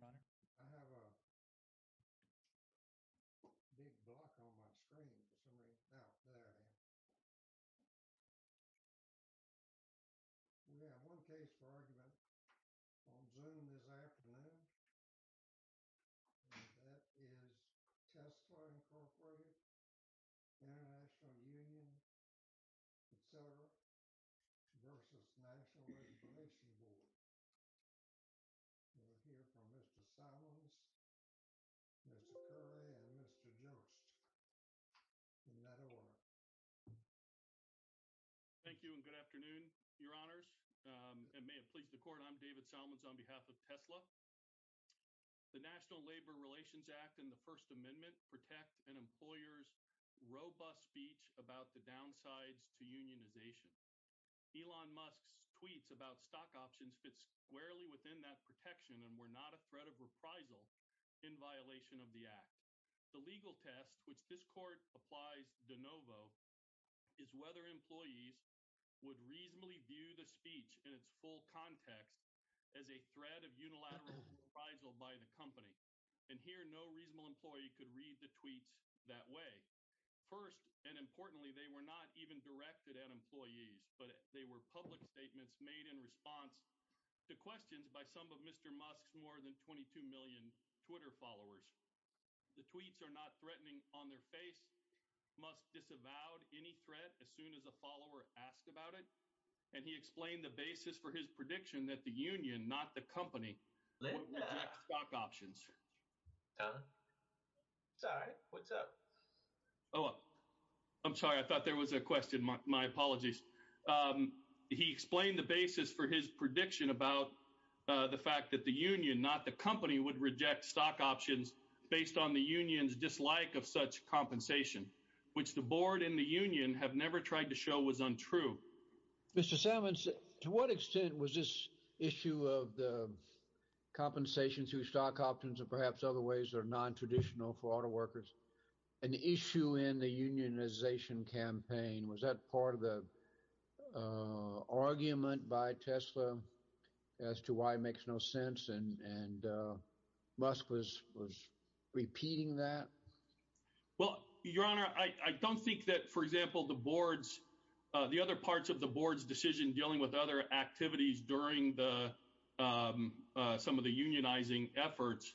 Good afternoon, your honor. I have a big block on my screen for somebody out there. We have one case for argument on Zoom this afternoon. That is Tesla Incorporated, International Union, etc. versus National Registration Board. We'll hear from Mr. Salmons, Mr. Curry, and Mr. Jones in that order. Thank you and good afternoon, your honors. And may it please the court, I'm David Salmons on behalf of Tesla. The National Labor Relations Act and the First Amendment protect an employer's robust speech about the downsides to unionization. Elon Musk's tweets about stock options fits squarely within that protection and were not a threat of reprisal in violation of the act. The legal test which this court applies de novo is whether employees would reasonably view the speech in its full context as a threat of unilateral reprisal by the company. And here no reasonable employee could read the tweets that way. First, and importantly, they were not even questions by some of Mr. Musk's more than 22 million Twitter followers. The tweets are not threatening on their face. Musk disavowed any threat as soon as a follower asked about it. And he explained the basis for his prediction that the union, not the company, would reject stock options. Sorry, what's up? Oh, I'm sorry. I thought there was a question. My apologies. He explained the basis for his prediction about the fact that the union, not the company, would reject stock options based on the union's dislike of such compensation, which the board and the union have never tried to show was untrue. Mr. Salmons, to what extent was this issue of the compensation to stock options and perhaps other ways are nontraditional for auto workers an issue in the unionization campaign? Was that part of the argument by Tesla as to why it makes no sense? And Musk was repeating that? Well, your honor, I don't think that, for example, the boards, the other parts of the board's decision dealing with other activities during the some of the unionizing efforts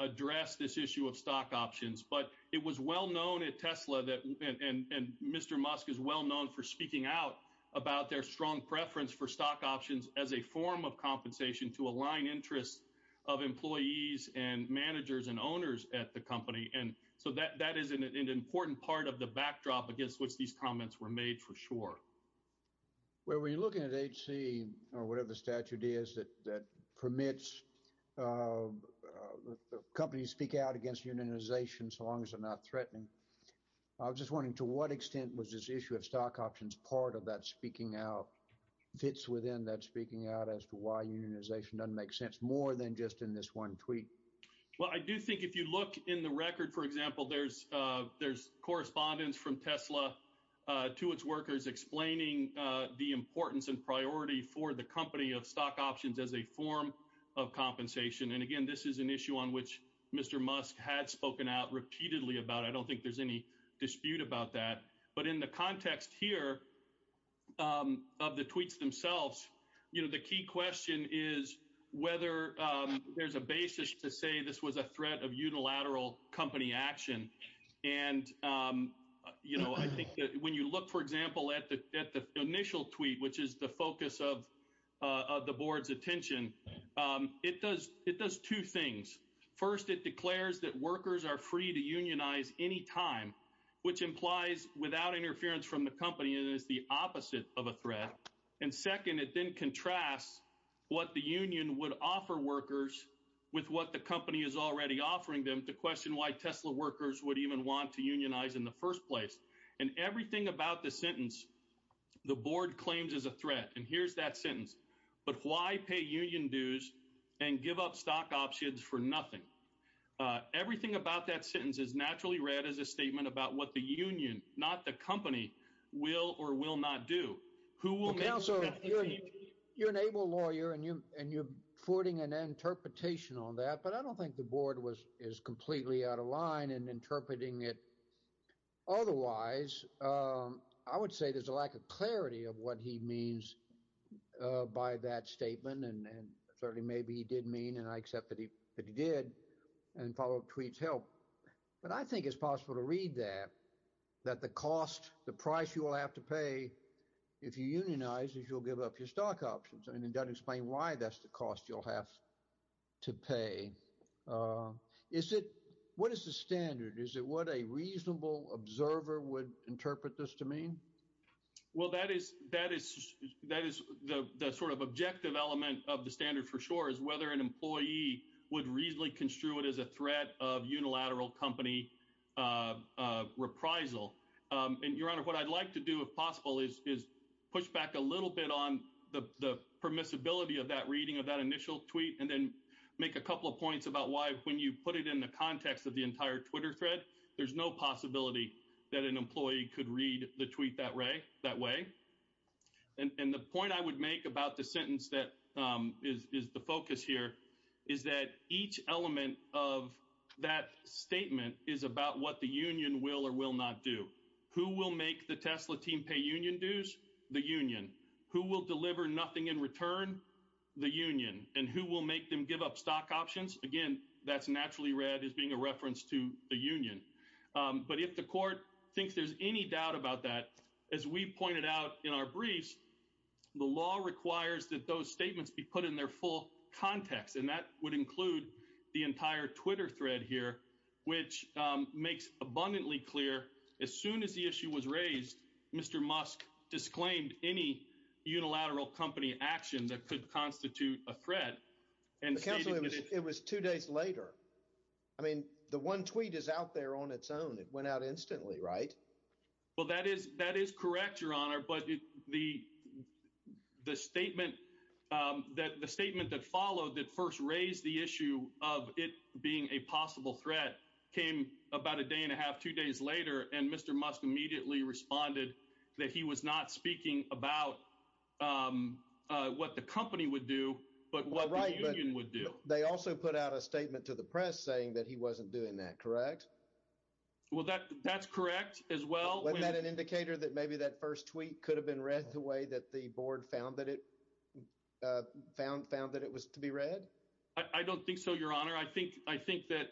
address this issue of stock options. But it was well known at Tesla that and Mr. Musk is well known for speaking out about their strong preference for stock options as a form of compensation to align interests of employees and managers and owners at the company. And so that is an important part of the backdrop against which these comments were made for sure. Where were you looking at H.C. or whatever the statute is that permits companies speak out against unionization so long as they're not threatening? I was just wondering, to what extent was this issue of stock options part of that speaking out fits within that speaking out as to why unionization doesn't make sense more than just in this one tweet? Well, I do think if you look in the record, for example, there's there's Tesla to its workers, explaining the importance and priority for the company of stock options as a form of compensation. And again, this is an issue on which Mr. Musk had spoken out repeatedly about. I don't think there's any dispute about that. But in the context here of the tweets themselves, you know, the key question is whether there's a basis to say this was a threat of you know, I think that when you look, for example, at the at the initial tweet, which is the focus of the board's attention, it does it does two things. First, it declares that workers are free to unionize any time, which implies without interference from the company, it is the opposite of a threat. And second, it then contrasts what the union would offer workers with what the company is already offering them to question why Tesla workers would even want to pay union dues in the first place. And everything about the sentence, the board claims is a threat. And here's that sentence. But why pay union dues and give up stock options for nothing? Everything about that sentence is naturally read as a statement about what the union, not the company, will or will not do. Who will counsel you're an able lawyer and you and you're forwarding an interpretation on that. But I don't think the board was is completely out of line and interpreting it. Otherwise, I would say there's a lack of clarity of what he means by that statement. And certainly maybe he did mean and I accept that he did and follow up tweets help. But I think it's possible to read that, that the cost, the price you will have to pay if you unionize is you'll give up your stock options. And it doesn't explain why that's the cost you'll have to pay. Is it what is the standard? Is it what a reasonable observer would interpret this to mean? Well, that is that is that is the sort of objective element of the standard for sure, is whether an employee would reasonably construe it as a threat of unilateral company reprisal. And your honor, what I'd like to do, if possible, is push back a little bit on the permissibility of that reading of that initial tweet and then make a couple of points about why when you put it in the context of the entire Twitter thread, there's no possibility that an employee could read the tweet that way. And the point I would make about the sentence that is the focus here is that each element of that statement is about what the union will or will not do, who will make the Tesla team pay union dues, the union who will deliver nothing in return, the union and who will make them give up stock options. Again, that's naturally read as being a reference to the union. But if the court thinks there's any doubt about that, as we pointed out in our briefs, the law requires that those statements be put in their full context. And that would include the entire Twitter thread here, which makes abundantly clear. As soon as the issue was raised, Mr. Musk disclaimed any unilateral company action that could constitute a threat. And it was two days later. I mean, the one tweet is out there on its own. It went out instantly, right? Well, that is that is correct, your honor. But the the statement that the the issue of it being a possible threat came about a day and a half, two days later, and Mr. Musk immediately responded that he was not speaking about what the company would do, but what the union would do. They also put out a statement to the press saying that he wasn't doing that, correct? Well, that that's correct as well. Wasn't that an indicator that maybe that first tweet could have been read the way that the board found that it found found that it was to be read? I don't think so, your honor. I think I think that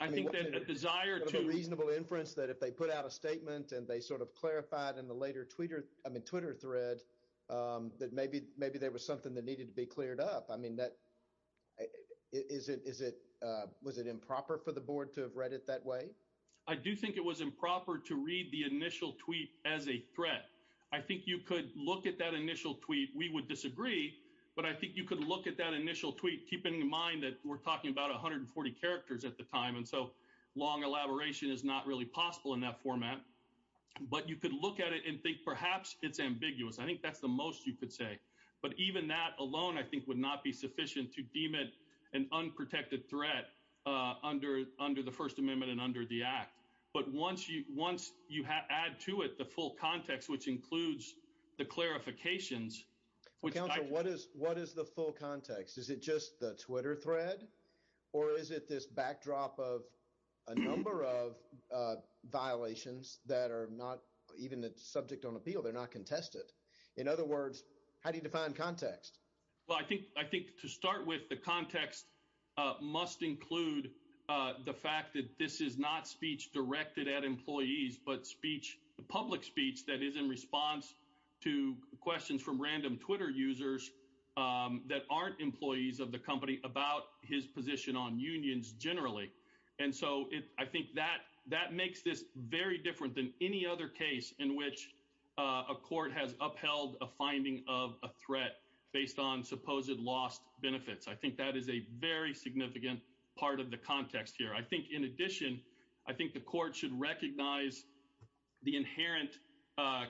I think that a desire to reasonable inference that if they put out a statement and they sort of clarified in the later Twitter, I mean, Twitter thread, that maybe maybe there was something that needed to be cleared up. I mean, that is it is it was it improper for the board to have read it that way? I do think it was improper to read the initial tweet as a threat. I think you could look at that initial tweet. We would disagree, but I think you could look at that initial tweet, keeping in mind that we're talking about 140 characters at the time. And so long elaboration is not really possible in that format. But you could look at it and think perhaps it's ambiguous. I think that's the most you could say. But even that alone, I think, would not be sufficient to deem it an unprotected threat under the First Amendment and under the act. But once you once you add to it the full context, which includes the clarifications, which I what is what is the full context? Is it just the Twitter thread or is it this backdrop of a number of violations that are not even the subject on appeal? They're not contested. In other words, how do you define context? Well, I think I think to start with, the context must include the fact that this is not speech directed at employees, but speech, public speech that is in response to questions from random Twitter users that aren't employees of the company about his position on unions generally. And so I think that that makes this very different than any other case in which a court has upheld a finding of a threat based on supposed lost benefits. I think that is a very significant part of the context here. I think in the United States, we recognize the inherent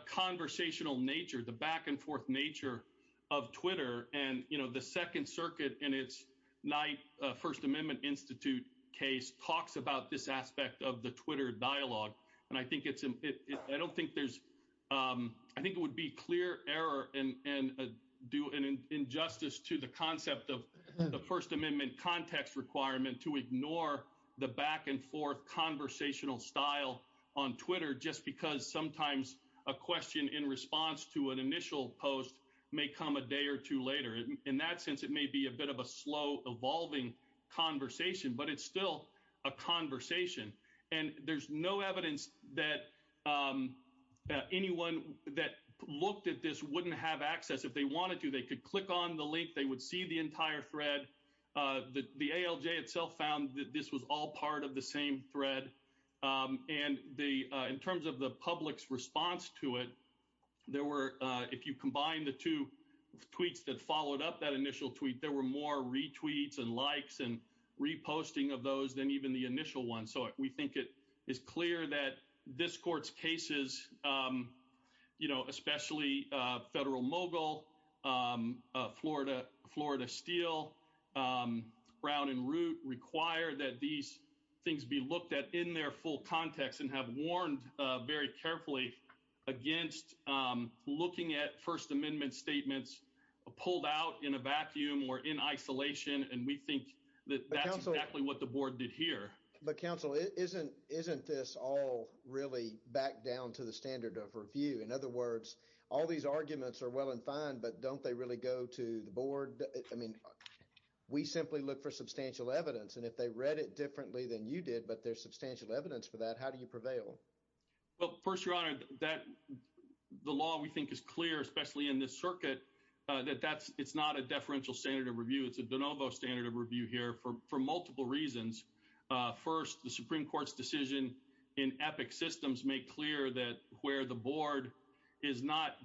conversational nature, the back and forth nature of Twitter. And, you know, the Second Circuit in its night First Amendment Institute case talks about this aspect of the Twitter dialogue. And I think it's I don't think there's I think it would be clear error and do an injustice to the concept of the First Amendment context requirement to on Twitter, just because sometimes a question in response to an initial post may come a day or two later. In that sense, it may be a bit of a slow evolving conversation, but it's still a conversation. And there's no evidence that anyone that looked at this wouldn't have access if they wanted to, they could click on the link, they would see the entire thread, the ALJ itself found that this was all part of the same thread. And the in terms of the public's response to it, there were, if you combine the two tweets that followed up that initial tweet, there were more retweets and likes and reposting of those than even the initial one. So we think it is clear that this court's cases, you know, especially federal mogul, Florida, Florida Steel, Brown and Root require that these things be looked at in their full context and have warned very carefully against looking at First Amendment statements pulled out in a vacuum or in isolation. And we think that that's exactly what the board did here. But counsel, isn't isn't this all really back down to the standard of review? In other words, all these arguments are well and fine, but don't they really go to the board? I mean, we simply look for substantial evidence. And if they read it differently than you did, but there's substantial evidence for that, how do you prevail? Well, first, your honor, that the law we think is clear, especially in this circuit, that that's it's not a deferential standard of review. It's a de novo standard of review here for for multiple reasons. First, the Supreme Court's decision in EPIC systems make clear that where the board is not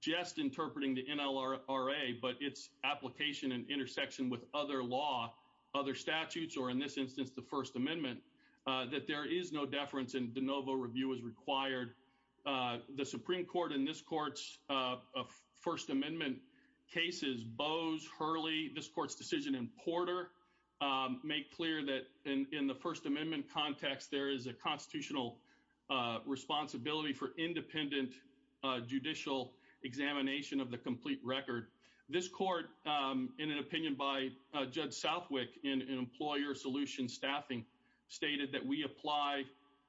just interpreting the NLRA, but its application and intersection with other law, other statutes, or in this instance, the First Amendment, that there is no deference and de novo review is required. The Supreme Court in this court's First Amendment cases, Bose, Hurley, this court's decision in Porter, make clear that in the First Amendment context, there is a constitutional responsibility for independent judicial examination of the complete record. This court, in an opinion by Judge Southwick in employer solution staffing, stated that we apply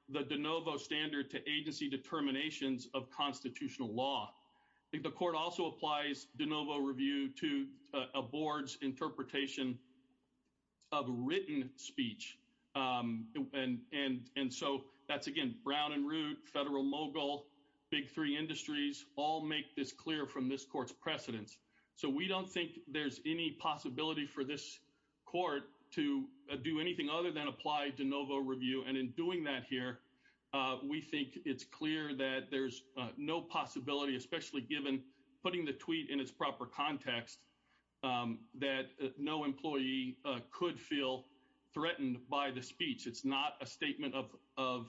the de novo standard to agency determinations of constitutional law. The court also applies de novo review to a board's interpretation of written speech. And so that's again, Brown and Root, Federal Mogul, big three industries all make this clear from this court's precedence. So we don't think there's any possibility for this court to do anything other than apply de novo review. And in doing that here, we think it's clear that there's no possibility, especially given putting the tweet in its proper context, that no employee could feel threatened by the speech. It's not a statement of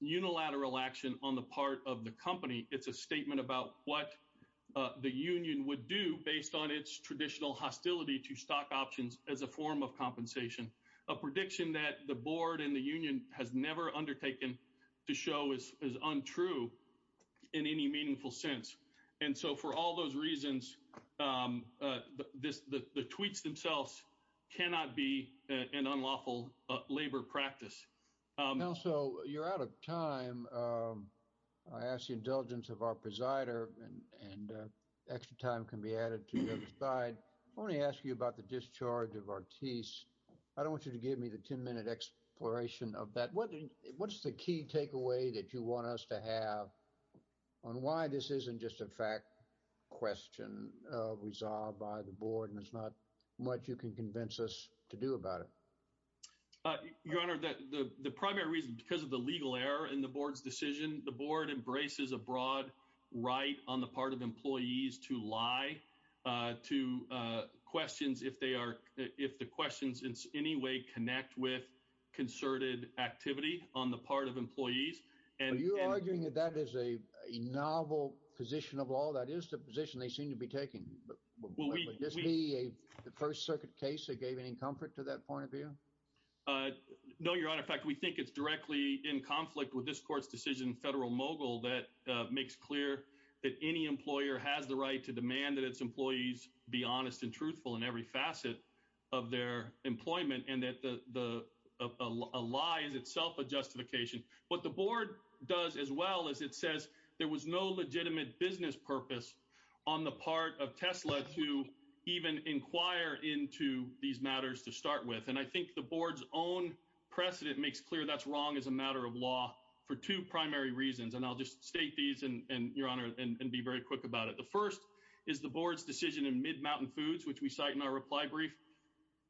unilateral action on the part of the company. It's a statement about what the union would do based on its traditional hostility to compensation, a prediction that the board and the union has never undertaken to show is untrue in any meaningful sense. And so for all those reasons, the tweets themselves cannot be an unlawful labor practice. Also, you're out of time. I ask the indulgence of our presider and extra time can be added to your side. I want to ask you about the discharge of Ortiz. I don't want you to give me the 10 minute exploration of that. What what's the key takeaway that you want us to have on why this isn't just a fact question resolved by the board and it's not what you can convince us to do about it? Your Honor, the primary reason because of the legal error in the board's decision, the board embraces a broad right on the part of employees to lie to questions if they are if the questions in any way connect with concerted activity on the part of employees. And you're arguing that that is a novel position of all that is the position they seem to be taking. This be a first circuit case that gave any comfort to that point of view? No, Your Honor. In fact, we think it's directly in conflict with this court's decision. Federal mogul that makes clear that any employer has the right to demand that its employees be honest and truthful in every facet of their employment and that the lie is itself a justification. What the board does as well as it says there was no legitimate business purpose on the part of precedent makes clear that's wrong as a matter of law for two primary reasons. And I'll just state these and your honor and be very quick about it. The first is the board's decision in Midmountain Foods, which we cite in our reply brief,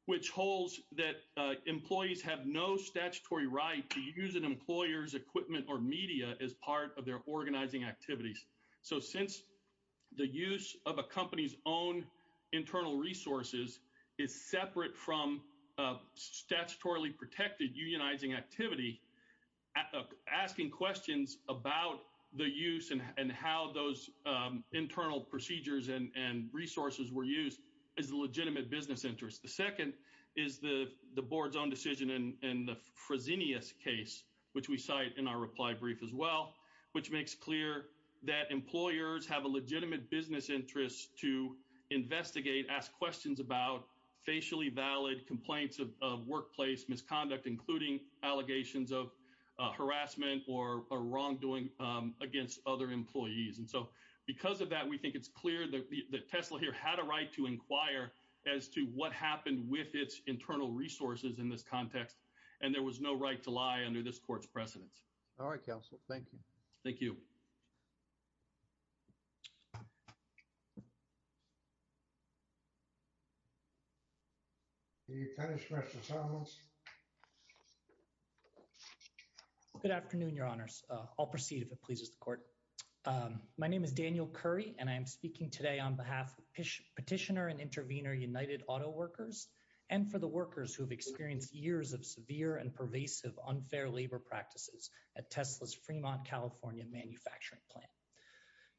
which holds that employees have no statutory right to use an employer's equipment or media as part of their organizing activities. So since the use of unionizing activity, asking questions about the use and how those internal procedures and resources were used is a legitimate business interest. The second is the board's own decision in the Fresenius case, which we cite in our reply brief as well, which makes clear that employers have a legitimate business interest to investigate, ask questions about facially valid complaints of workplace misconduct, including allegations of harassment or wrongdoing against other employees. And so because of that, we think it's clear that Tesla here had a right to inquire as to what happened with its internal resources in this context. And there was no right to lie under this court's precedence. All right, counsel. Thank you. Thank you. Good afternoon, your honors. I'll proceed if it pleases the court. My name is Daniel Curry, and I'm speaking today on behalf of Petitioner and Intervener United Auto Workers and for the at Tesla's Fremont, California manufacturing plant.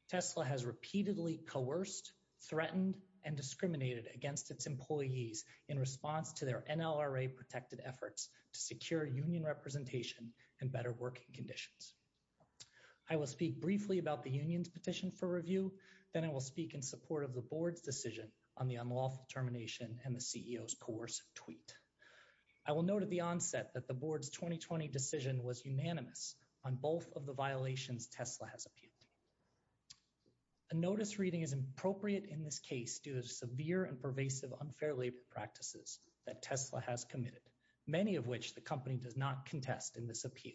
Tesla has repeatedly coerced, threatened, and discriminated against its employees in response to their NLRA protected efforts to secure union representation and better working conditions. I will speak briefly about the union's petition for review. Then I will speak in support of the board's decision on the unlawful termination and the CEO's coercive tweet. I will note at the onset that the board's 2020 decision was unanimous on both of the violations Tesla has appealed. A notice reading is appropriate in this case due to severe and pervasive unfair labor practices that Tesla has committed, many of which the company does not contest in this appeal.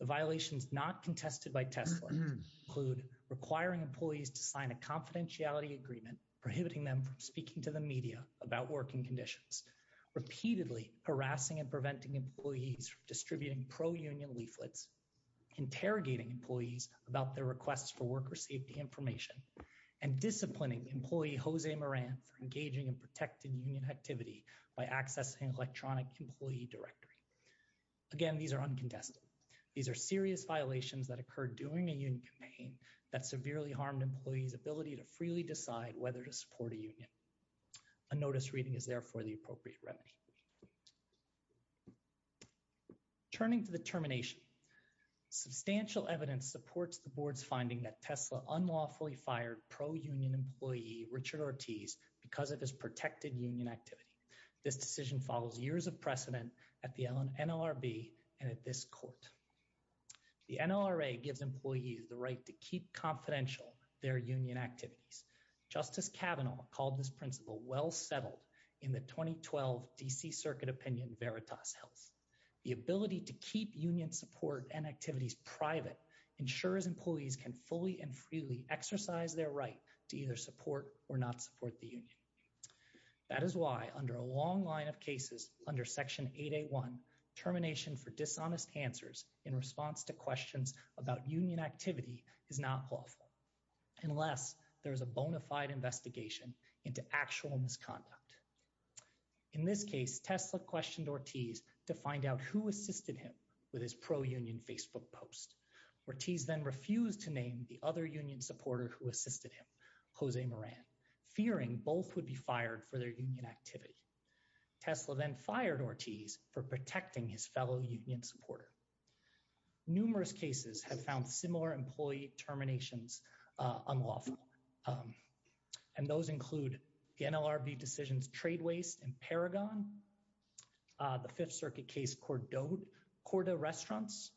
The violations not contested by Tesla include requiring employees to sign a confidentiality agreement prohibiting them from speaking to the media about working conditions, repeatedly harassing and preventing employees from distributing pro-union leaflets, interrogating employees about their requests for worker safety information, and disciplining employee Jose Moran for engaging in protected union activity by accessing electronic employee directory. Again, these are uncontested. These are serious violations that occurred during a union that severely harmed employees' ability to freely decide whether to support a union. A notice reading is therefore the appropriate remedy. Turning to the termination, substantial evidence supports the board's finding that Tesla unlawfully fired pro-union employee Richard Ortiz because of his protected union activity. This decision follows years of precedent at the NLRB and at this court. The NLRA gives employees the right to keep confidential their union activities. Justice Kavanaugh called this principle well settled in the 2012 DC Circuit Opinion Veritas Health. The ability to keep union support and activities private ensures employees can fully and freely exercise their right to either support or not support the union. That is why under a long line of cases under Section 881, termination for dishonest answers in response to questions about union activity is not lawful unless there is a bona fide investigation into actual misconduct. In this case, Tesla questioned Ortiz to find out who assisted him with his pro-union Facebook post. Ortiz then refused to name the other union supporter who assisted him, Jose Moran, fearing both would be fired for their union activity. Tesla then fired Ortiz for protecting his fellow union supporter. Numerous cases have found similar employee terminations unlawful, and those include the NLRB decisions Trade Waste and Paragon, the Fifth Circuit case Corda Restaurants,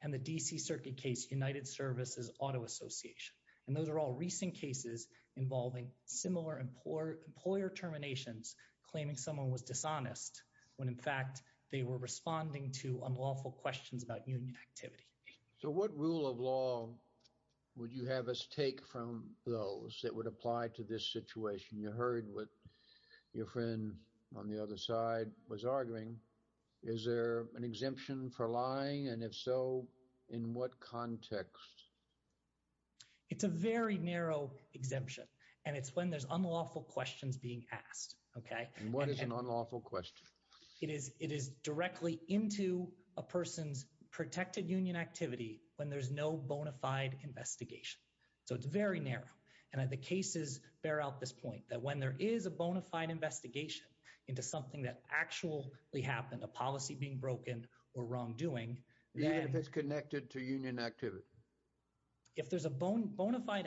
and the DC Circuit case United Services Auto Association, and those are all recent cases involving similar employer terminations claiming someone was dishonest when in fact they were responding to unlawful questions about union activity. So what rule of law would you have us take from those that would apply to this situation? You heard what your friend on the other side was arguing. Is there an exemption for lying, and if so, in what context? It's a very narrow exemption, and it's when there's unlawful questions being asked, okay? And what is an unlawful question? It is directly into a person's protected union activity when there's no bona fide investigation, so it's very narrow, and the cases bear out this point that when there is a bona fide investigation into something that actually happened, a policy being broken or wrongdoing. Even if it's connected to union activity. If there's a bona fide,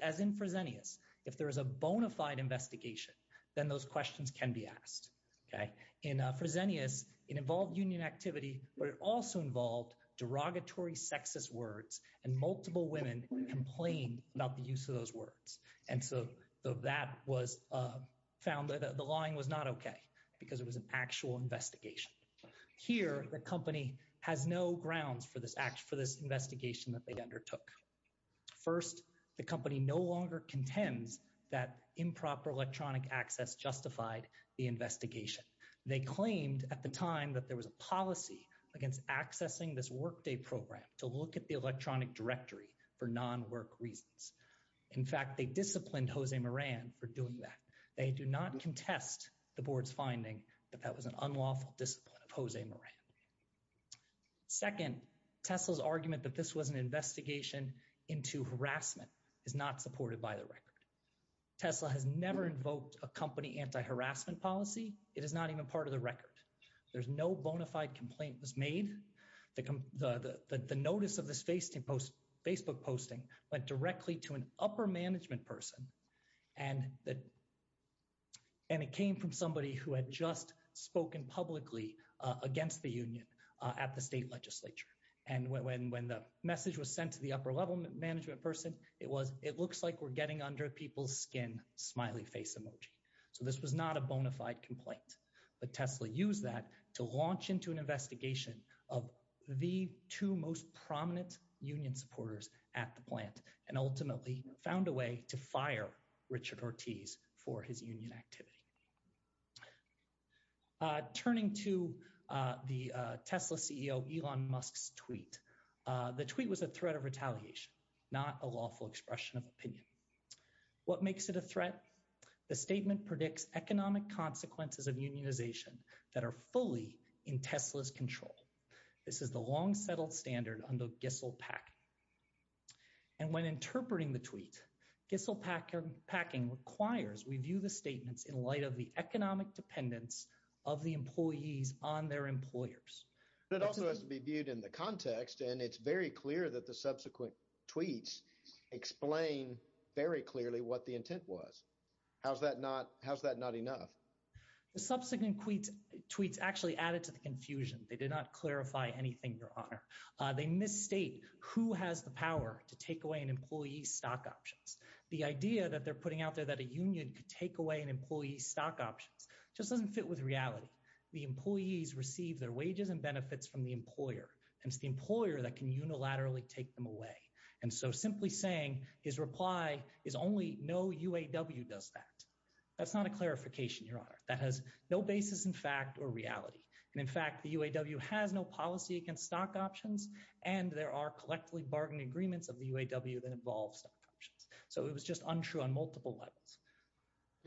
as in Fresenius, if there is a bona fide investigation, then those questions can be asked, okay? In Fresenius, it involved union activity, but it also involved derogatory sexist words, and multiple women complained about the use of those words, and so that was found, the lying was not okay because it was an actual investigation. Here, the company has no grounds for this investigation that they undertook. First, the company no longer contends that improper electronic access justified the investigation. They claimed at the time that there was a policy against accessing this workday program to look at the electronic directory for non-work reasons. In fact, they disciplined Jose Moran for doing that. They do not contest the board's finding that that was an unlawful discipline of Jose Moran. Second, Tesla's argument that this was an investigation into harassment is not supported by the record. Tesla has never invoked a company anti-harassment policy. It is not even part of the record. There's no bona fide complaint was made. The notice of this Facebook posting went directly to an upper management person, and it came from somebody who had just spoken publicly against the union at the state legislature, and when the message was sent to the upper level management person, it was, it looks like we're getting under people's skin, smiley face emoji, so this was not a bona fide complaint, but Tesla used that to launch into investigation of the two most prominent union supporters at the plant and ultimately found a way to fire Richard Ortiz for his union activity. Turning to the Tesla CEO Elon Musk's tweet, the tweet was a threat of retaliation, not a lawful expression of opinion. What makes it a threat? The statement predicts economic consequences of unionization that are fully in Tesla's control. This is the long settled standard under Gissel Packing, and when interpreting the tweet, Gissel Packing requires we view the statements in light of the economic dependence of the employees on their employers. It also has to be viewed in the context, and it's very clear that the subsequent tweets explain very clearly what the intent was. How's that not enough? The subsequent tweets actually added to the confusion. They did not clarify anything, your honor. They misstate who has the power to take away an employee's stock options. The idea that they're putting out there that a union could take away an employee's stock options just doesn't fit with reality. The employees receive their wages and benefits from the employer, and it's the employer that can unilaterally take them away, and so simply saying his reply is only no UAW does that. That's not a clarification, your honor. That has no basis in fact or reality, and in fact, the UAW has no policy against stock options, and there are collectively bargained agreements of the UAW that involve stock options, so it was just untrue on multiple levels.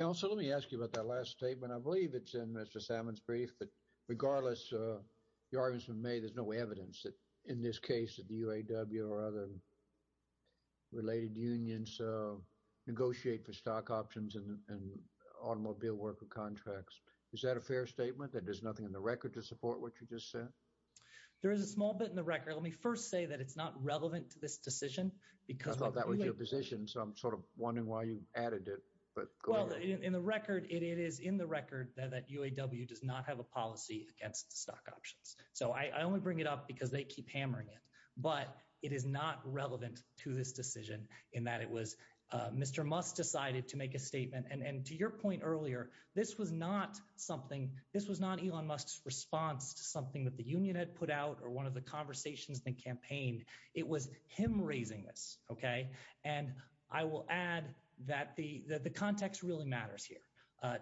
Also, let me ask you about that last statement. I believe it's in Mr. Salmon's brief, but regardless of the arguments made, there's no evidence that in this case that the UAW or other related unions negotiate for stock options and automobile worker contracts. Is that a fair statement that there's nothing in the record to support what you just said? There is a small bit in the record. Let me first say that it's not relevant to this decision because- I thought that was your position, so I'm sort of wondering why you added it, but go ahead. Well, in the record, it is in the record that UAW does not have a policy against stock options, so I only bring it up because they keep hammering it, but it is not relevant to this decision in that it was Mr. Musk decided to make a statement, and to your point earlier, this was not Elon Musk's response to something that the union had put out or one of the conversations they campaigned. It was him raising this, okay, and I will add that the context really matters here.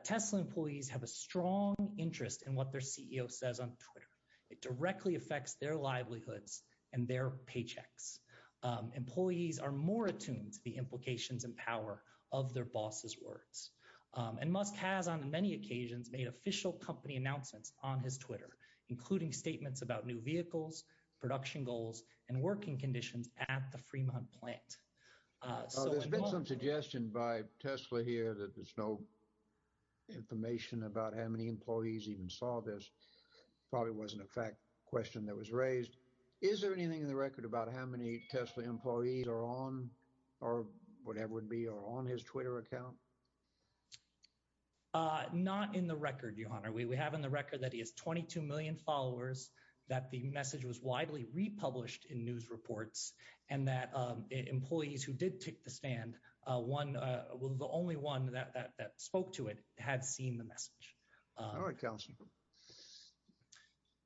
Tesla employees have a strong interest in what their CEO says on Twitter. It directly affects their livelihoods and their paychecks. Employees are more attuned to the implications and power of their boss's words, and Musk has, on many occasions, made official company announcements on his Twitter, including statements about new vehicles, production goals, and working conditions at the Fremont plant. There's been some suggestion by Tesla here that there's no information about how many employees even saw this. Probably wasn't a fact question that was raised. Is there anything in the record about how many Tesla employees are on or whatever it would be are on his Twitter account? Not in the record, your honor. We have in the record that he has 22 million followers, that the message was widely republished in news reports, and that employees who did take the stand, one, the only one that spoke to it had seen the message. All right, counsel.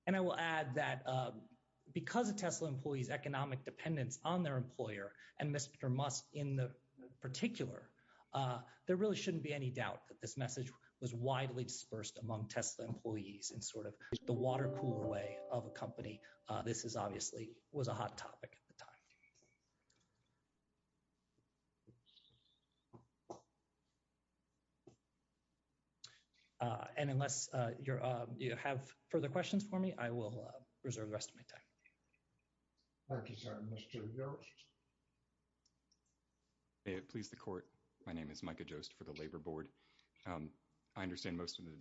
And I will add that because of Tesla employees' economic dependence on their employer and Mr. Musk in particular, there really shouldn't be any doubt that this message was widely dispersed among Tesla employees in sort of the water cooler way of a company. This is obviously was a hot topic at the time. And unless you have further questions for me, I will reserve the rest of my time. Thank you, sir. Mr. Jost. May it please the court. My name is Micah Jost for the Labor Board. I understand most of the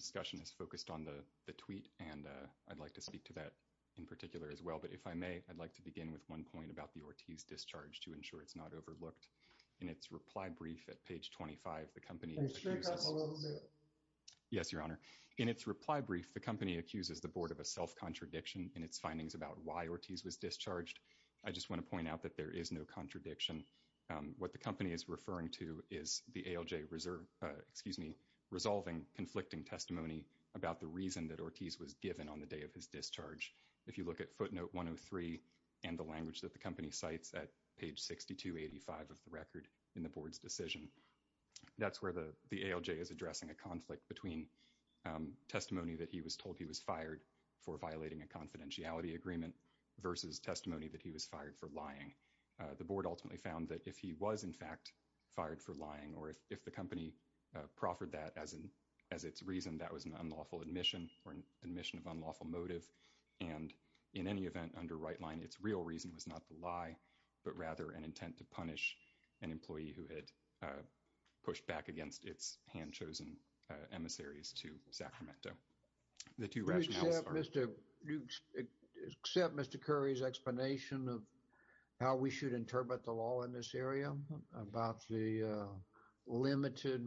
as well. But if I may, I'd like to begin with one point about the Ortiz discharge to ensure it's not overlooked. In its reply brief at page 25, the company. Yes, your honor. In its reply brief, the company accuses the board of a self-contradiction in its findings about why Ortiz was discharged. I just want to point out that there is no contradiction. What the company is referring to is the ALJ reserve, excuse me, resolving conflicting testimony about the reason Ortiz was given on the day of his discharge. If you look at footnote 103 and the language that the company cites at page 6285 of the record in the board's decision, that's where the ALJ is addressing a conflict between testimony that he was told he was fired for violating a confidentiality agreement versus testimony that he was fired for lying. The board ultimately found that if he was, in fact, fired for lying or if the company proffered that as its reason, that was an admission of unlawful motive. And in any event, under right line, its real reason was not the lie, but rather an intent to punish an employee who had pushed back against its hand-chosen emissaries to Sacramento. The two rationales. Do you accept Mr. Curry's explanation of how we should interpret the law in this area about the limited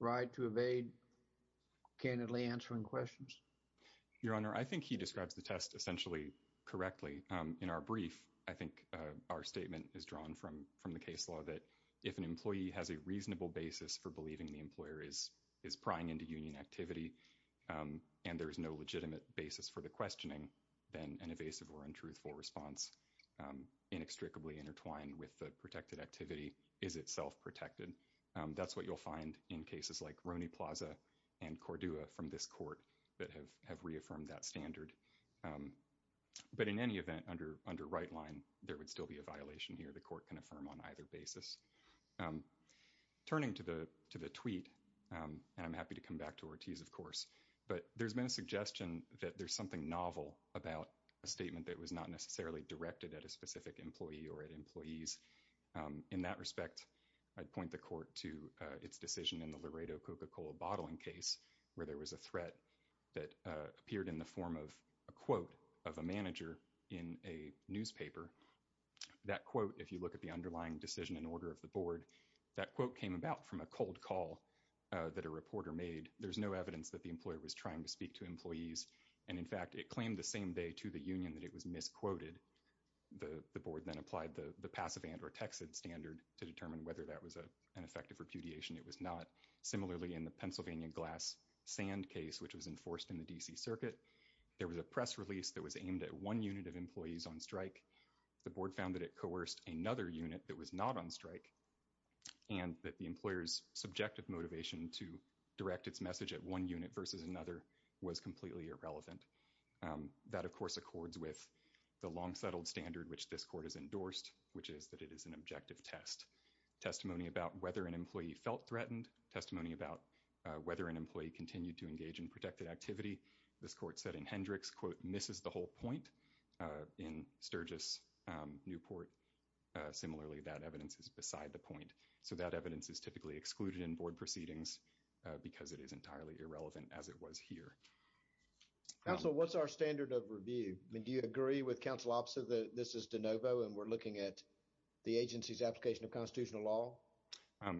right to evade candidly answering questions? Your Honor, I think he describes the test essentially correctly. In our brief, I think our statement is drawn from the case law that if an employee has a reasonable basis for believing the employer is prying into union activity and there is no legitimate basis for the questioning, then an evasive or untruthful response inextricably intertwined with the protected activity is itself protected. That's what you'll find in cases like Roney Plaza and Cordua from this court that have reaffirmed that standard. But in any event, under right line, there would still be a violation here. The court can affirm on either basis. Turning to the tweet, and I'm happy to come back to Ortiz, of course, but there's been a suggestion that there's something novel about a statement that was not necessarily directed at a specific employee or at employees. In that respect, I'd point the court to its decision in the Laredo Coca-Cola bottling case where there was a threat that appeared in the form of a quote of a manager in a newspaper. That quote, if you look at the underlying decision in order of the board, that quote came about from a cold call that a reporter made. There's no evidence that the employer was trying to speak to employees. And in fact, it claimed the same day to the union that it was misquoted. The board then applied the passive and or texted standard to determine whether that was an effective repudiation. It was not. Similarly, in the Pennsylvania glass sand case, which was enforced in the DC circuit, there was a press release that was aimed at one unit of employees on strike. The board found that it coerced another unit that was not on strike and that the employer's subjective motivation to direct its message at one unit versus another was completely irrelevant. That, of course, accords with the long settled standard which this court has endorsed, which is that it is an objective test. Testimony about whether an employee felt threatened, testimony about whether an employee continued to engage in protected activity. This court said in Hendricks, quote, misses the whole point. In Sturgis, Newport, similarly, that evidence is the point. So that evidence is typically excluded in board proceedings because it is entirely irrelevant as it was here. Counsel, what's our standard of review? Do you agree with counsel? This is DeNovo, and we're looking at the agency's application of constitutional law.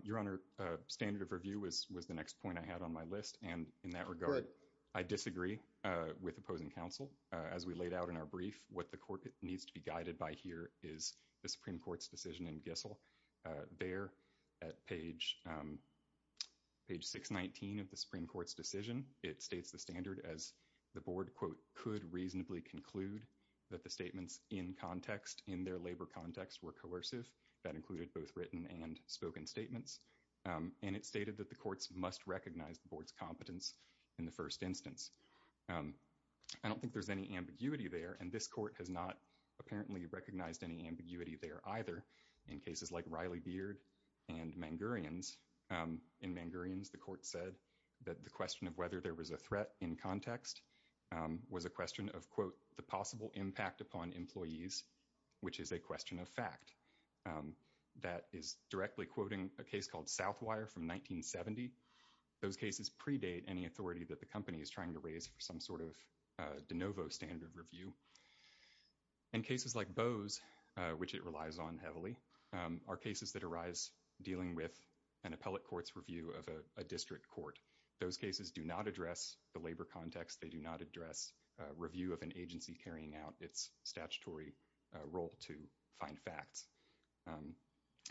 Your Honor, standard of review was the next point I had on my list. And in that regard, I disagree with opposing counsel. As we laid out in our brief, what the court needs to be guided by here is the Supreme Court's decision in Gissel. There at page 619 of the Supreme Court's decision, it states the standard as the board, quote, could reasonably conclude that the statements in context, in their labor context were coercive. That included both written and spoken statements. And it stated that the courts must recognize the board's competence in the first instance. I don't think there's any ambiguity there. And this court has not apparently recognized any ambiguity there either. In cases like Riley Beard and Mangurians, in Mangurians, the court said that the question of whether there was a threat in context was a question of, quote, the possible impact upon employees, which is a question of fact. That is directly quoting a case called Southwire from 1970. Those cases predate any authority that the company is trying to raise for some sort of DeNovo standard review. In cases like Bose, which it relies on heavily, are cases that arise dealing with an appellate court's review of a district court. Those cases do not address the labor context. They do not address a review of an agency carrying out its statutory role to find facts.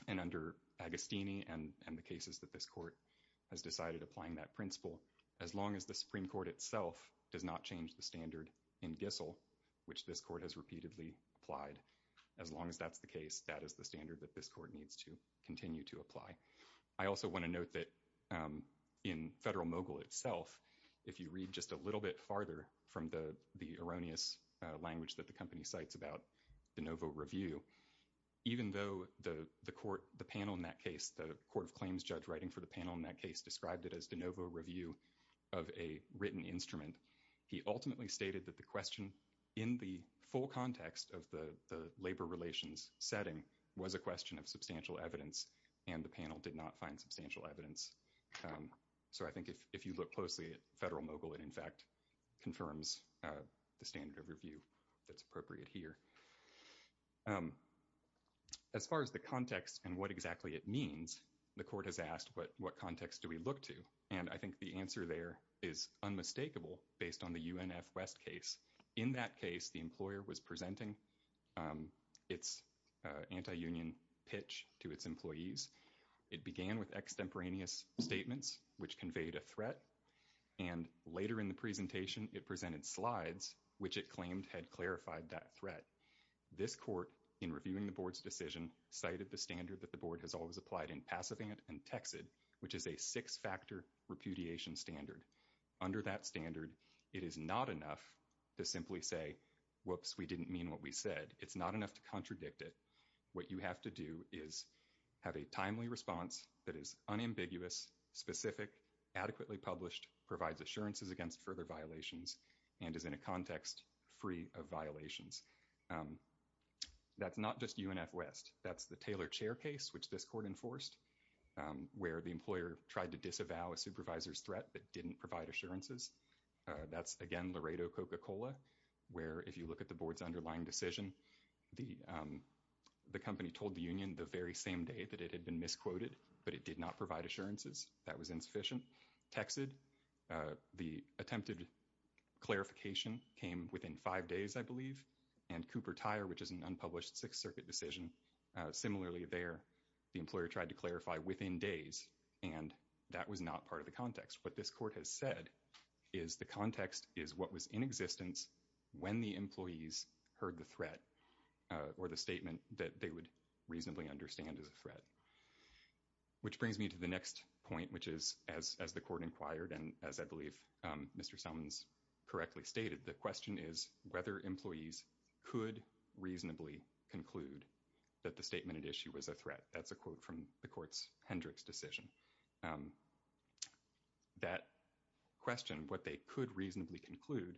And under Agostini and the cases that this court has decided applying that principle, as long as the Supreme Court itself does not change the standard in Gissell, which this court has repeatedly applied, as long as that's the case, that is the standard that this court needs to continue to apply. I also want to note that in Federal Mogul itself, if you read just a little bit farther from the erroneous language that the company cites about DeNovo review, even though the panel in that case, the court of claims judge writing for the panel in that case described it as DeNovo review of a written instrument, he ultimately stated that the question in the full context of the labor relations setting was a question of substantial evidence, and the panel did not find substantial evidence. So I think if you look closely at Federal Mogul, it in fact confirms the standard of review that's appropriate here. As far as the context and what exactly it is, the answer there is unmistakable based on the UNF West case. In that case, the employer was presenting its anti-union pitch to its employees. It began with extemporaneous statements, which conveyed a threat. And later in the presentation, it presented slides, which it claimed had clarified that threat. This court in reviewing the board's decision cited the standard that the board has applied in PASAVANT and TEXID, which is a six-factor repudiation standard. Under that standard, it is not enough to simply say, whoops, we didn't mean what we said. It's not enough to contradict it. What you have to do is have a timely response that is unambiguous, specific, adequately published, provides assurances against further violations, and is in a context free of violations. That's not just UNF West. That's the Taylor Chair case, which this court enforced, where the employer tried to disavow a supervisor's threat but didn't provide assurances. That's, again, Laredo Coca-Cola, where if you look at the board's underlying decision, the company told the union the very same day that it had been misquoted, but it did not provide assurances. That was insufficient. TEXID, the attempted clarification came within five days, and Cooper Tire, which is an unpublished Sixth Circuit decision, similarly there, the employer tried to clarify within days, and that was not part of the context. What this court has said is the context is what was in existence when the employees heard the threat or the statement that they would reasonably understand as a threat. Which brings me to the next point, which is, as the court inquired, and as I believe Mr. Selman's correctly stated, the question is whether employees could reasonably conclude that the statement at issue was a threat. That's a quote from the court's Hendricks decision. That question, what they could reasonably conclude,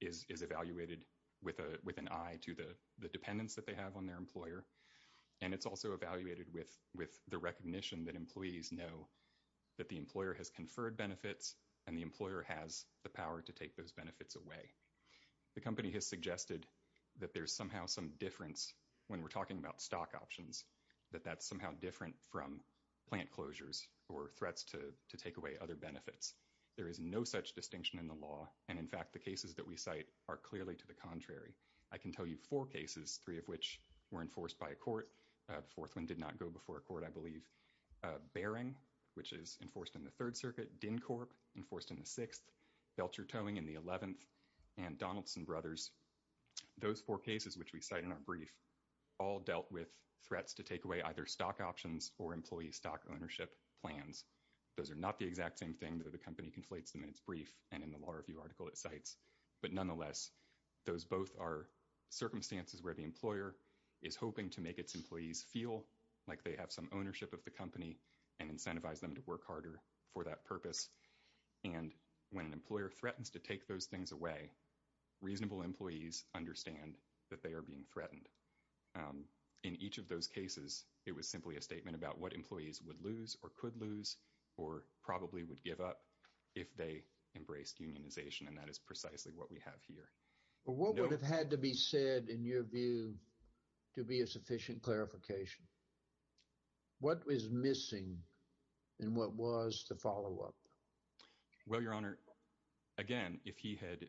is evaluated with an eye to the dependence that they have on their employer, and it's also evaluated with the recognition that employees know that the employer has conferred benefits away. The company has suggested that there's somehow some difference when we're talking about stock options, that that's somehow different from plant closures or threats to take away other benefits. There is no such distinction in the law, and in fact the cases that we cite are clearly to the contrary. I can tell you four cases, three of which were enforced by a court. The fourth one did not go before a court, I believe. Bearing, which is enforced in the Third Circuit. Dincorp, enforced in the Sixth. Belcher Towing in the Eleventh. And Donaldson Brothers. Those four cases, which we cite in our brief, all dealt with threats to take away either stock options or employee stock ownership plans. Those are not the exact same thing that the company conflates them in its brief and in the Law Review article it cites, but nonetheless those both are circumstances where the employer is hoping to make its employees feel like they have some ownership of the company and incentivize them to work harder for that purpose. And when an employer threatens to take those things away, reasonable employees understand that they are being threatened. In each of those cases, it was simply a statement about what employees would lose or could lose or probably would give up if they embraced unionization, and that is precisely what we have here. What would have had to be said, in your view, to be a sufficient clarification? What was missing and what was the follow-up? Well, Your Honor, again, if he had,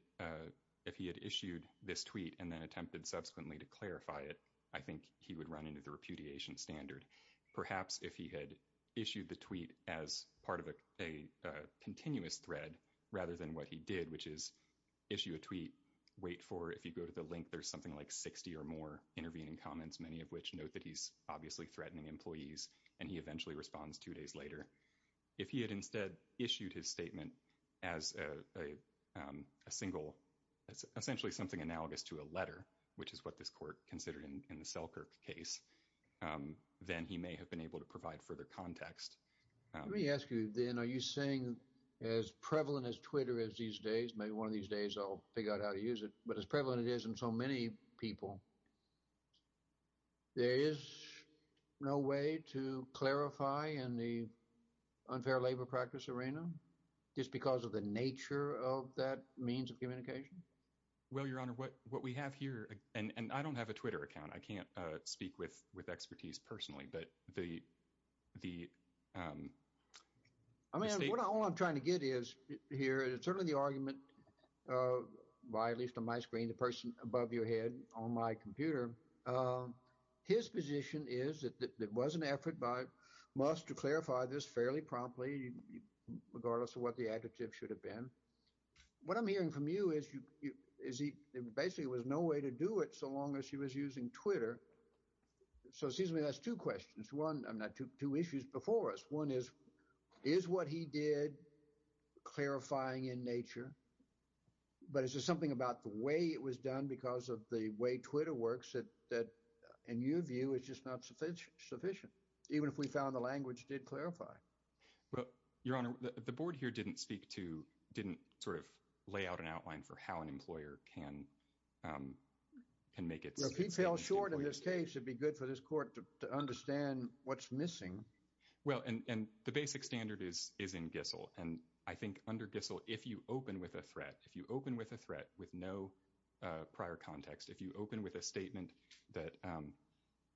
if he had issued this tweet and then attempted subsequently to clarify it, I think he would run into the repudiation standard. Perhaps if he had issued the tweet as part of a continuous thread rather than what he did, which is issue a tweet, wait for, if you go to the link, there's something like 60 or more intervening comments, many of which note that he's obviously threatening employees, and he eventually responds two days later. If he had instead issued his statement as a single, essentially something analogous to a letter, which is what this court considered in the Selkirk case, then he may have been able to provide further context. Let me ask you then, are you saying as prevalent as Twitter is these days, maybe one of these days I'll figure out how to use it, but as prevalent it is in so many people, there is no way to clarify in the unfair labor practice arena, just because of the nature of that means of communication? Well, Your Honor, what we have here, and I don't have a Twitter account. I can't speak with expertise personally, but the, I mean, all I'm trying to get here is certainly the his position is that there was an effort by Musk to clarify this fairly promptly, regardless of what the adjective should have been. What I'm hearing from you is he, basically, there was no way to do it so long as he was using Twitter. So excuse me, that's two questions. One, I'm not, two issues before us. One is, is what he did clarifying in nature, but is there something about the way it was done because of the way Twitter works that in your view is just not sufficient, even if we found the language did clarify? Well, Your Honor, the board here didn't speak to, didn't sort of lay out an outline for how an employer can make it. Well, if he fell short in this case, it'd be good for this court to understand what's missing. Well, and the basic standard is in Gissel, and I think under Gissel, if you open with a threat, if you open with a threat with no prior context, if you open with a statement that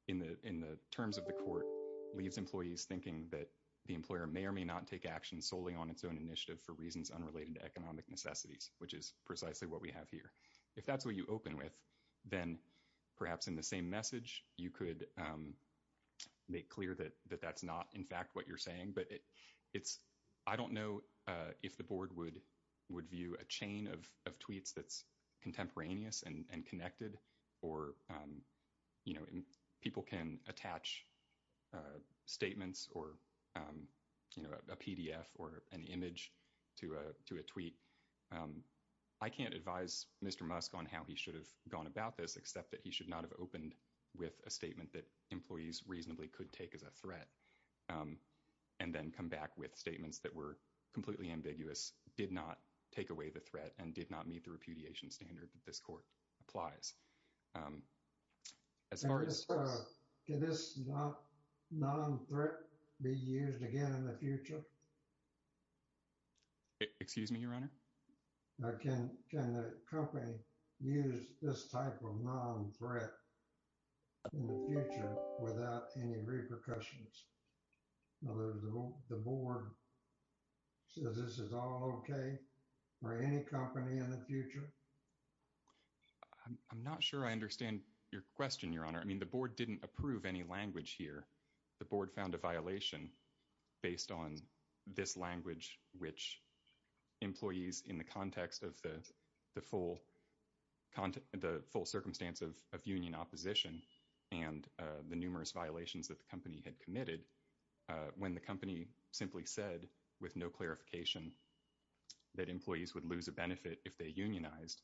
in the terms of the court leaves employees thinking that the employer may or may not take action solely on its own initiative for reasons unrelated to economic necessities, which is precisely what we have here. If that's what you open with, then perhaps in the same message, you could make clear that that's not in fact what you're saying. But it's, I don't know if the board would view a chain of tweets that's contemporaneous and connected or, you know, people can attach statements or, you know, a PDF or an image to a tweet. I can't advise Mr. Musk on how he should have gone about this except that he should not have opened with a statement that employees reasonably could take as a threat and then come back with statements that were completely ambiguous, did not take away the threat, and did not meet the repudiation standard that this court applies. As far as... Can this non-threat be used again in the future? Excuse me, Your Honor? Can the company use this type of non-threat in the future without any repercussions? In other words, the board says this is all okay for any company in the future? I'm not sure I understand your question, Your Honor. I mean, the board didn't approve any language here. The board found a violation based on this language, which employees in the context of the full circumstance of union opposition and the numerous violations that the company had committed when the company simply said with no clarification that employees would lose a benefit if they unionized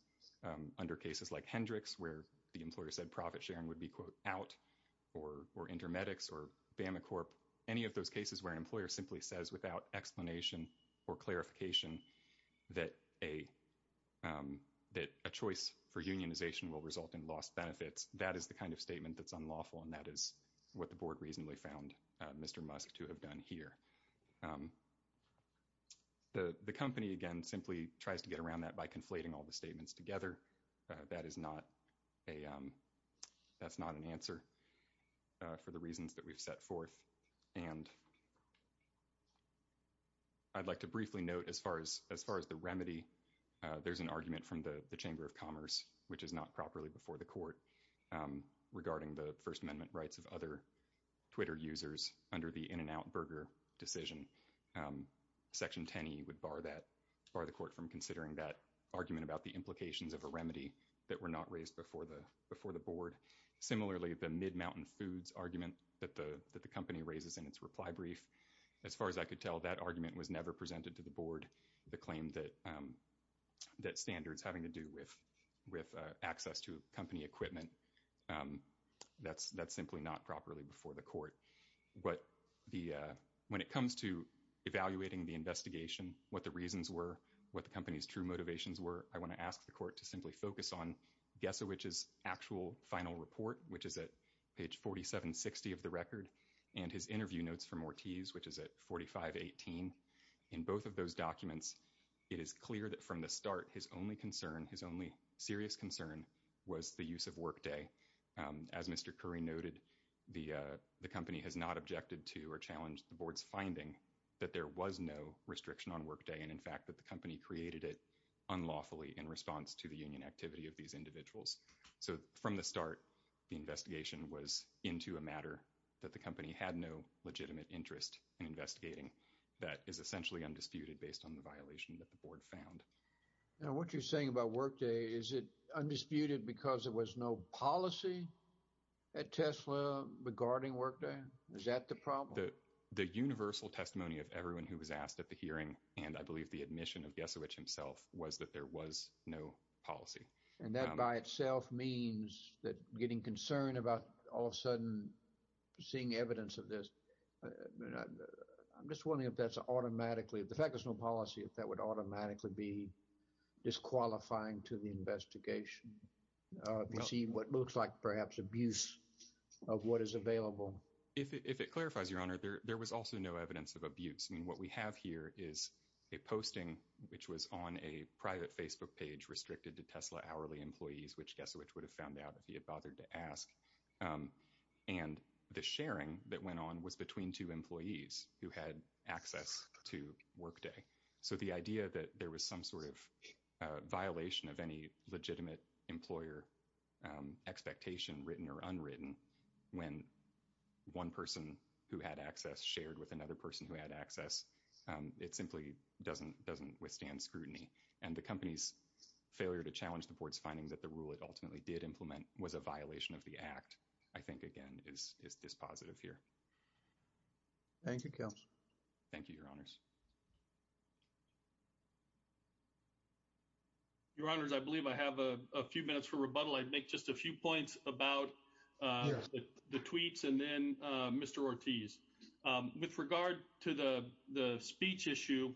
under cases like Hendrix, where the employer said profit sharing would be, quote, out, or InterMedix or BamaCorp, any of those cases where an employer simply says without explanation or clarification that a choice for unionization will result in lost benefits, that is the kind of statement that's unlawful, and that is what the board reasonably found Mr. Musk to have done here. The company, again, simply tries to get around that by conflating all the statements together. That's not an answer for the reasons that we've set forth. And I'd like to briefly note, as far as the remedy, there's an argument from the Chamber of Commerce, which is not properly before the court, regarding the First Amendment rights of other Twitter users under the In-N-Out Burger decision. Section 10e would bar the court from considering that argument about the implications of a remedy that were not raised before the board. Similarly, the Mid-Mountain Foods argument that the company raises in its reply brief, as far as I could tell, that argument was never presented to the board, the claim that standards having to do with access to company equipment, that's simply not properly before the court. But when it comes to evaluating the investigation, what the reasons were, what the company's true motivations were, I want to ask the court to simply focus on Gesowich's actual final report, which is at page 4760 of the record, and his interview notes from Ortiz, which is at 4518. In both of those documents, it is clear that from the start, his only serious concern was the use of Workday. As Mr. Curry noted, the company has not objected to or challenged the board's finding that there was no restriction on Workday, and in fact, that the company created it unlawfully in response to the union activity of these individuals. So from the start, the investigation was into a matter that the company had no legitimate interest in investigating that is essentially undisputed based on the violation that the board found. Now, what you're saying about Workday, is it undisputed because there was no policy at Tesla regarding Workday? Is that the problem? The universal testimony of everyone who was asked at the hearing, and I believe the admission of Gesowich himself, was that there was no policy. And that by itself means that getting concerned about all of a sudden seeing evidence of this, I'm just wondering if that's automatically, if the fact there's no policy, if that would automatically be disqualifying to the investigation. You see what looks like perhaps abuse of what is available. If it clarifies, Your Honor, there was also no evidence of abuse. I mean, what we have here is a posting, which was on a private Facebook page restricted to Tesla hourly employees, which Gesowich would have found out if he had bothered to ask. And the sharing that went on was between two employees who had access to Workday. So the idea that there was some sort of violation of any legitimate employer expectation, written or unwritten, when one person who had access shared with another person who had access, it simply doesn't withstand scrutiny. And the company's failure to challenge the board's findings that the rule it ultimately did implement was a violation of the act, I think, again, is dispositive here. Thank you, counsel. Thank you, Your Honors. Your Honors, I believe I have a few minutes for rebuttal. I'd make just a few points about the tweets and then Mr. Ortiz. With regard to the speech issue,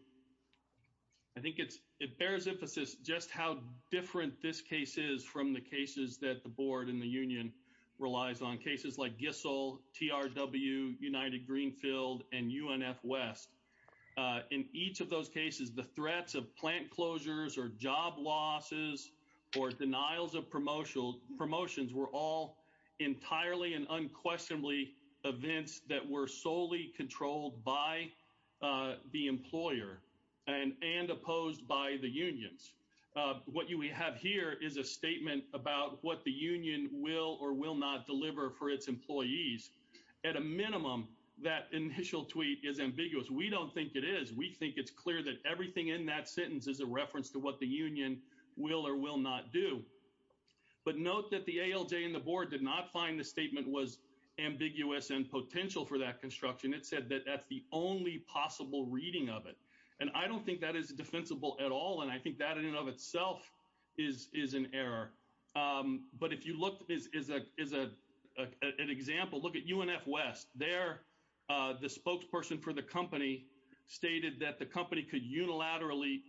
I think it's, it bears emphasis just how different this case is from the cases that the board and the union relies on cases like Gissell, TRW, United Greenfield and UNF West. In each of those cases, the threats of plant closures or job losses, or denials of promotional promotions were all entirely and unquestionably events that were solely controlled by the employer and and opposed by the unions. What we have here is a statement about what the union will or will not deliver for its employees. At a minimum, that initial tweet is ambiguous. We don't think it is. We think it's clear that everything in that sentence is a reference to what the union will or will not do. But note that the ALJ and the board did not find the statement was ambiguous and potential for that construction. It said that that's the only possible reading of it. And I don't think that is defensible at all. And I think that in and of itself is an error. But if you look at this as an example, look at UNF West. There, the spokesperson for the company stated that the company could unilaterally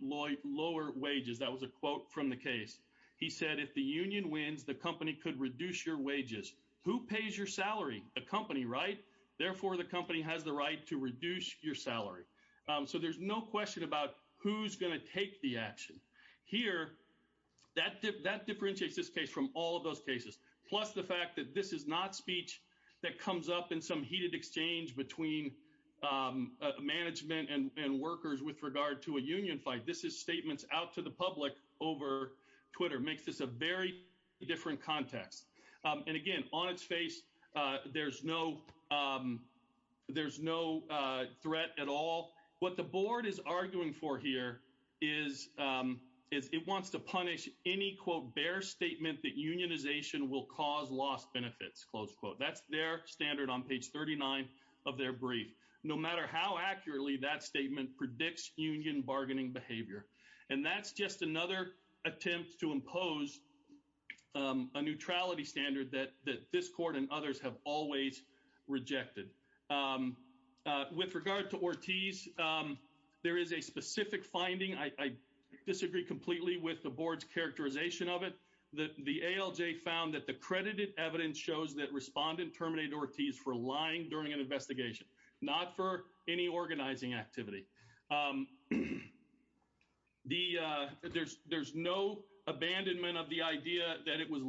lower wages. That was a quote from the case. He said, if the union wins, the company could reduce your wages. Who pays your salary? The question about who's going to take the action here, that that differentiates this case from all of those cases, plus the fact that this is not speech that comes up in some heated exchange between management and workers with regard to a union fight. This is statements out to the public over Twitter, makes this a very different context. And again, on its face, there's no there's no threat at all. What the board is arguing for here is it wants to punish any, quote, bear statement that unionization will cause lost benefits, close quote. That's their standard on page thirty nine of their brief, no matter how accurately that statement predicts union bargaining behavior. And that's just another attempt to impose a neutrality standard that this court and others have always rejected. With regard to Ortiz, there is a specific finding. I disagree completely with the board's characterization of it. The ALJ found that the credited evidence shows that respondent terminated Ortiz for lying during an investigation, not for any organizing activity. The there's there's no abandonment of the idea that it was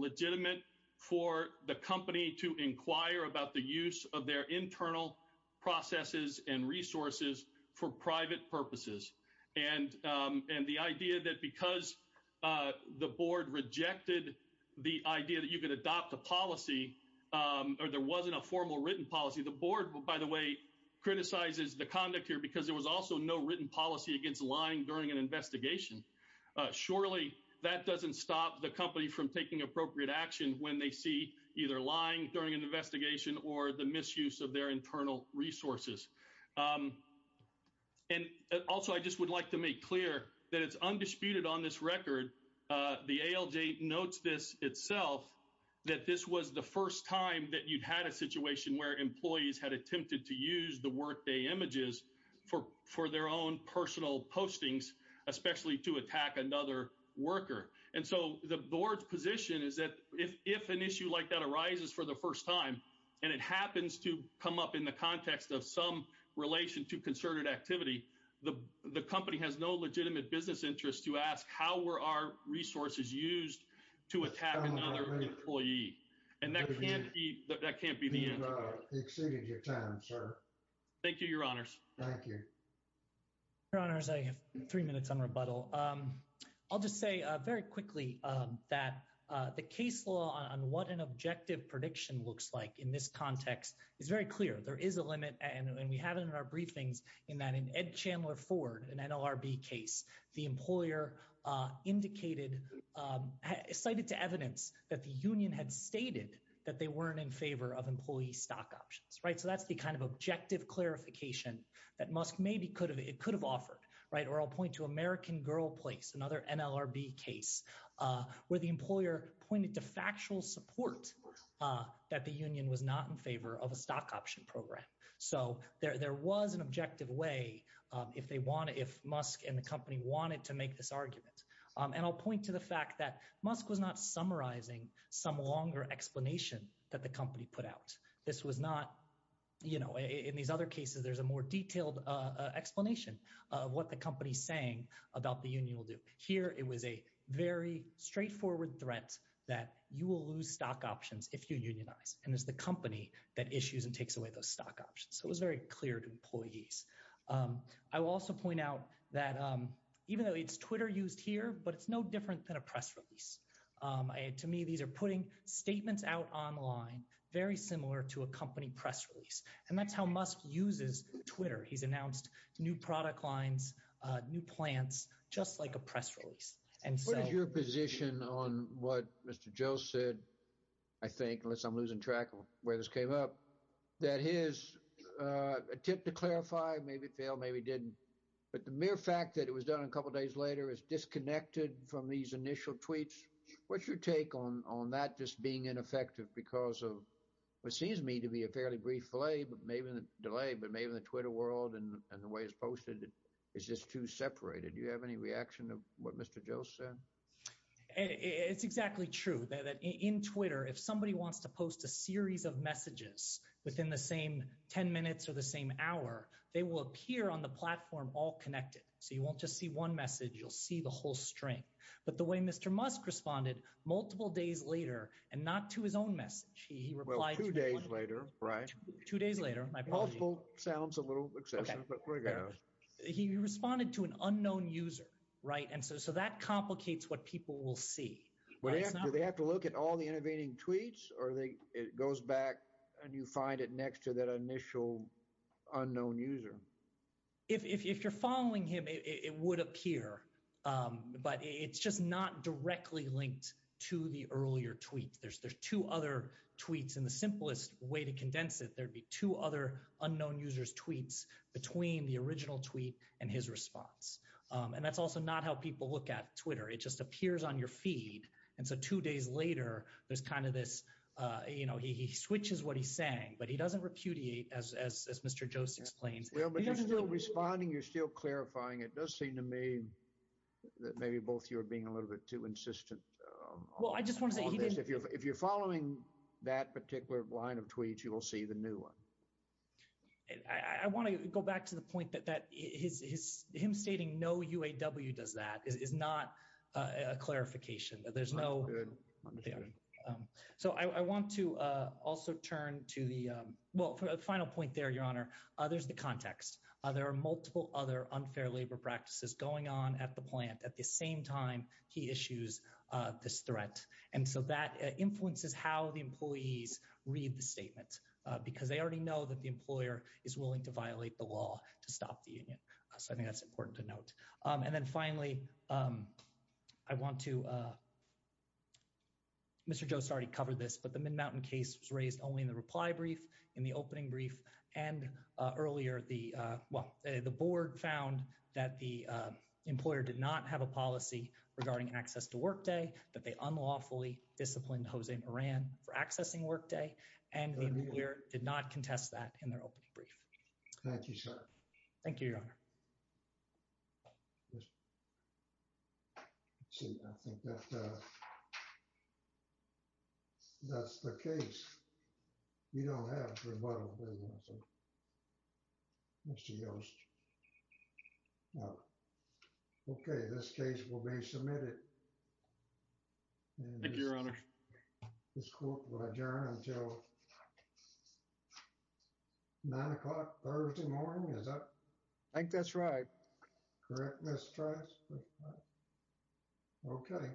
the company to inquire about the use of their internal processes and resources for private purposes. And and the idea that because the board rejected the idea that you could adopt a policy or there wasn't a formal written policy, the board, by the way, criticizes the conduct here because there was also no written policy against lying during an investigation. Surely that doesn't stop the company from taking appropriate action when they see either lying during an investigation or the misuse of their internal resources. And also, I just would like to make clear that it's undisputed on this record. The ALJ notes this itself, that this was the first time that you've had a situation where employees had attempted to use the workday images for for their own personal postings, especially to attack another worker. And so the board's position is that if if an issue like that arises for the first time and it happens to come up in the context of some relation to concerted activity, the the company has no legitimate business interest to ask how were our resources used to attack another employee. And that can't be that can't be the time. Thank you, your honors. Thank you. Your honors, I have three minutes on rebuttal. I'll just say very quickly that the case law on what an objective prediction looks like in this context is very clear. There is a limit, and we have it in our briefings, in that in Ed Chandler Ford, an NLRB case, the employer indicated cited to evidence that the union had stated that they weren't in favor of employee stock options, right. So that's the kind of objective clarification that Musk maybe could have, it could have offered, right. Or I'll point to American Girl Place, another NLRB case, where the employer pointed to factual support that the union was not in favor of a stock option program. So there was an objective way if they want to, if Musk and the company wanted to make this argument. And I'll point to the fact that Musk was not summarizing some longer explanation that the company put out. This was not, you know, in these other cases, there's a more detailed explanation of what the company's saying about the union will do. Here, it was a very straightforward threat that you will lose stock options if you unionize, and it's the company that issues and takes away those stock options. So it was very clear to employees. I will also point out that even though it's Twitter used here, but it's no different than a press release. To me, these are putting statements out online, very similar to a company press release. And that's how Musk uses Twitter. He's announced new product lines, new plants, just like a press release. And so- What is your position on what Mr. Joe said, I think, unless I'm losing track of where this came up, that his attempt to clarify, maybe failed, maybe didn't. But the mere fact that it was done a couple days later is disconnected from these initial tweets. What's your take on that just being ineffective because of what seems to me to be a fairly brief delay, but maybe in the Twitter world and the way it's posted, it's just too separated. Do you have any reaction to what Mr. Joe said? It's exactly true that in Twitter, if somebody wants to post a series of messages within the same 10 minutes or the same hour, they will appear on the platform all connected. So you won't just see one message, you'll see the whole string. But the way Mr. Musk responded, multiple days later, and not to his own message, he replied- Well, two days later, right? Two days later, my apologies. Multiple sounds a little excessive, but we're going to- He responded to an unknown user, right? And so that complicates what people will see. They have to look at all the intervening tweets, or it goes back and you find it next to that it would appear, but it's just not directly linked to the earlier tweet. There's two other tweets. And the simplest way to condense it, there'd be two other unknown users tweets between the original tweet and his response. And that's also not how people look at Twitter. It just appears on your feed. And so two days later, there's kind of this, he switches what he's saying, but he doesn't repudiate as Mr. Jost explains. Well, but you're still responding, you're still clarifying. It does seem to me that maybe both of you are being a little bit too insistent on this. Well, I just want to say- If you're following that particular line of tweets, you will see the new one. I want to go back to the point that him stating no UAW does that is not a clarification. That's good. So I want to also turn to the, well, for a final point there, Your Honor, there's the context. There are multiple other unfair labor practices going on at the plant at the same time he issues this threat. And so that influences how the employees read the statement, because they already know that the employer is willing to violate the law to stop the union. So I think that's important to note. And then finally, I want to, Mr. Jost already covered this, but the board found that the employer did not have a policy regarding access to workday, that they unlawfully disciplined Jose Moran for accessing workday, and the employer did not contest that in their opening brief. Thank you, sir. Thank you, Your Honor. Let's see, I think that's the case. We don't have a rebuttal. Mr. Jost. Okay, this case will be submitted. Thank you, Your Honor. This court will adjourn until 9 o'clock Thursday morning, is that? I think that's right. Correct, Mr. Jost? Okay.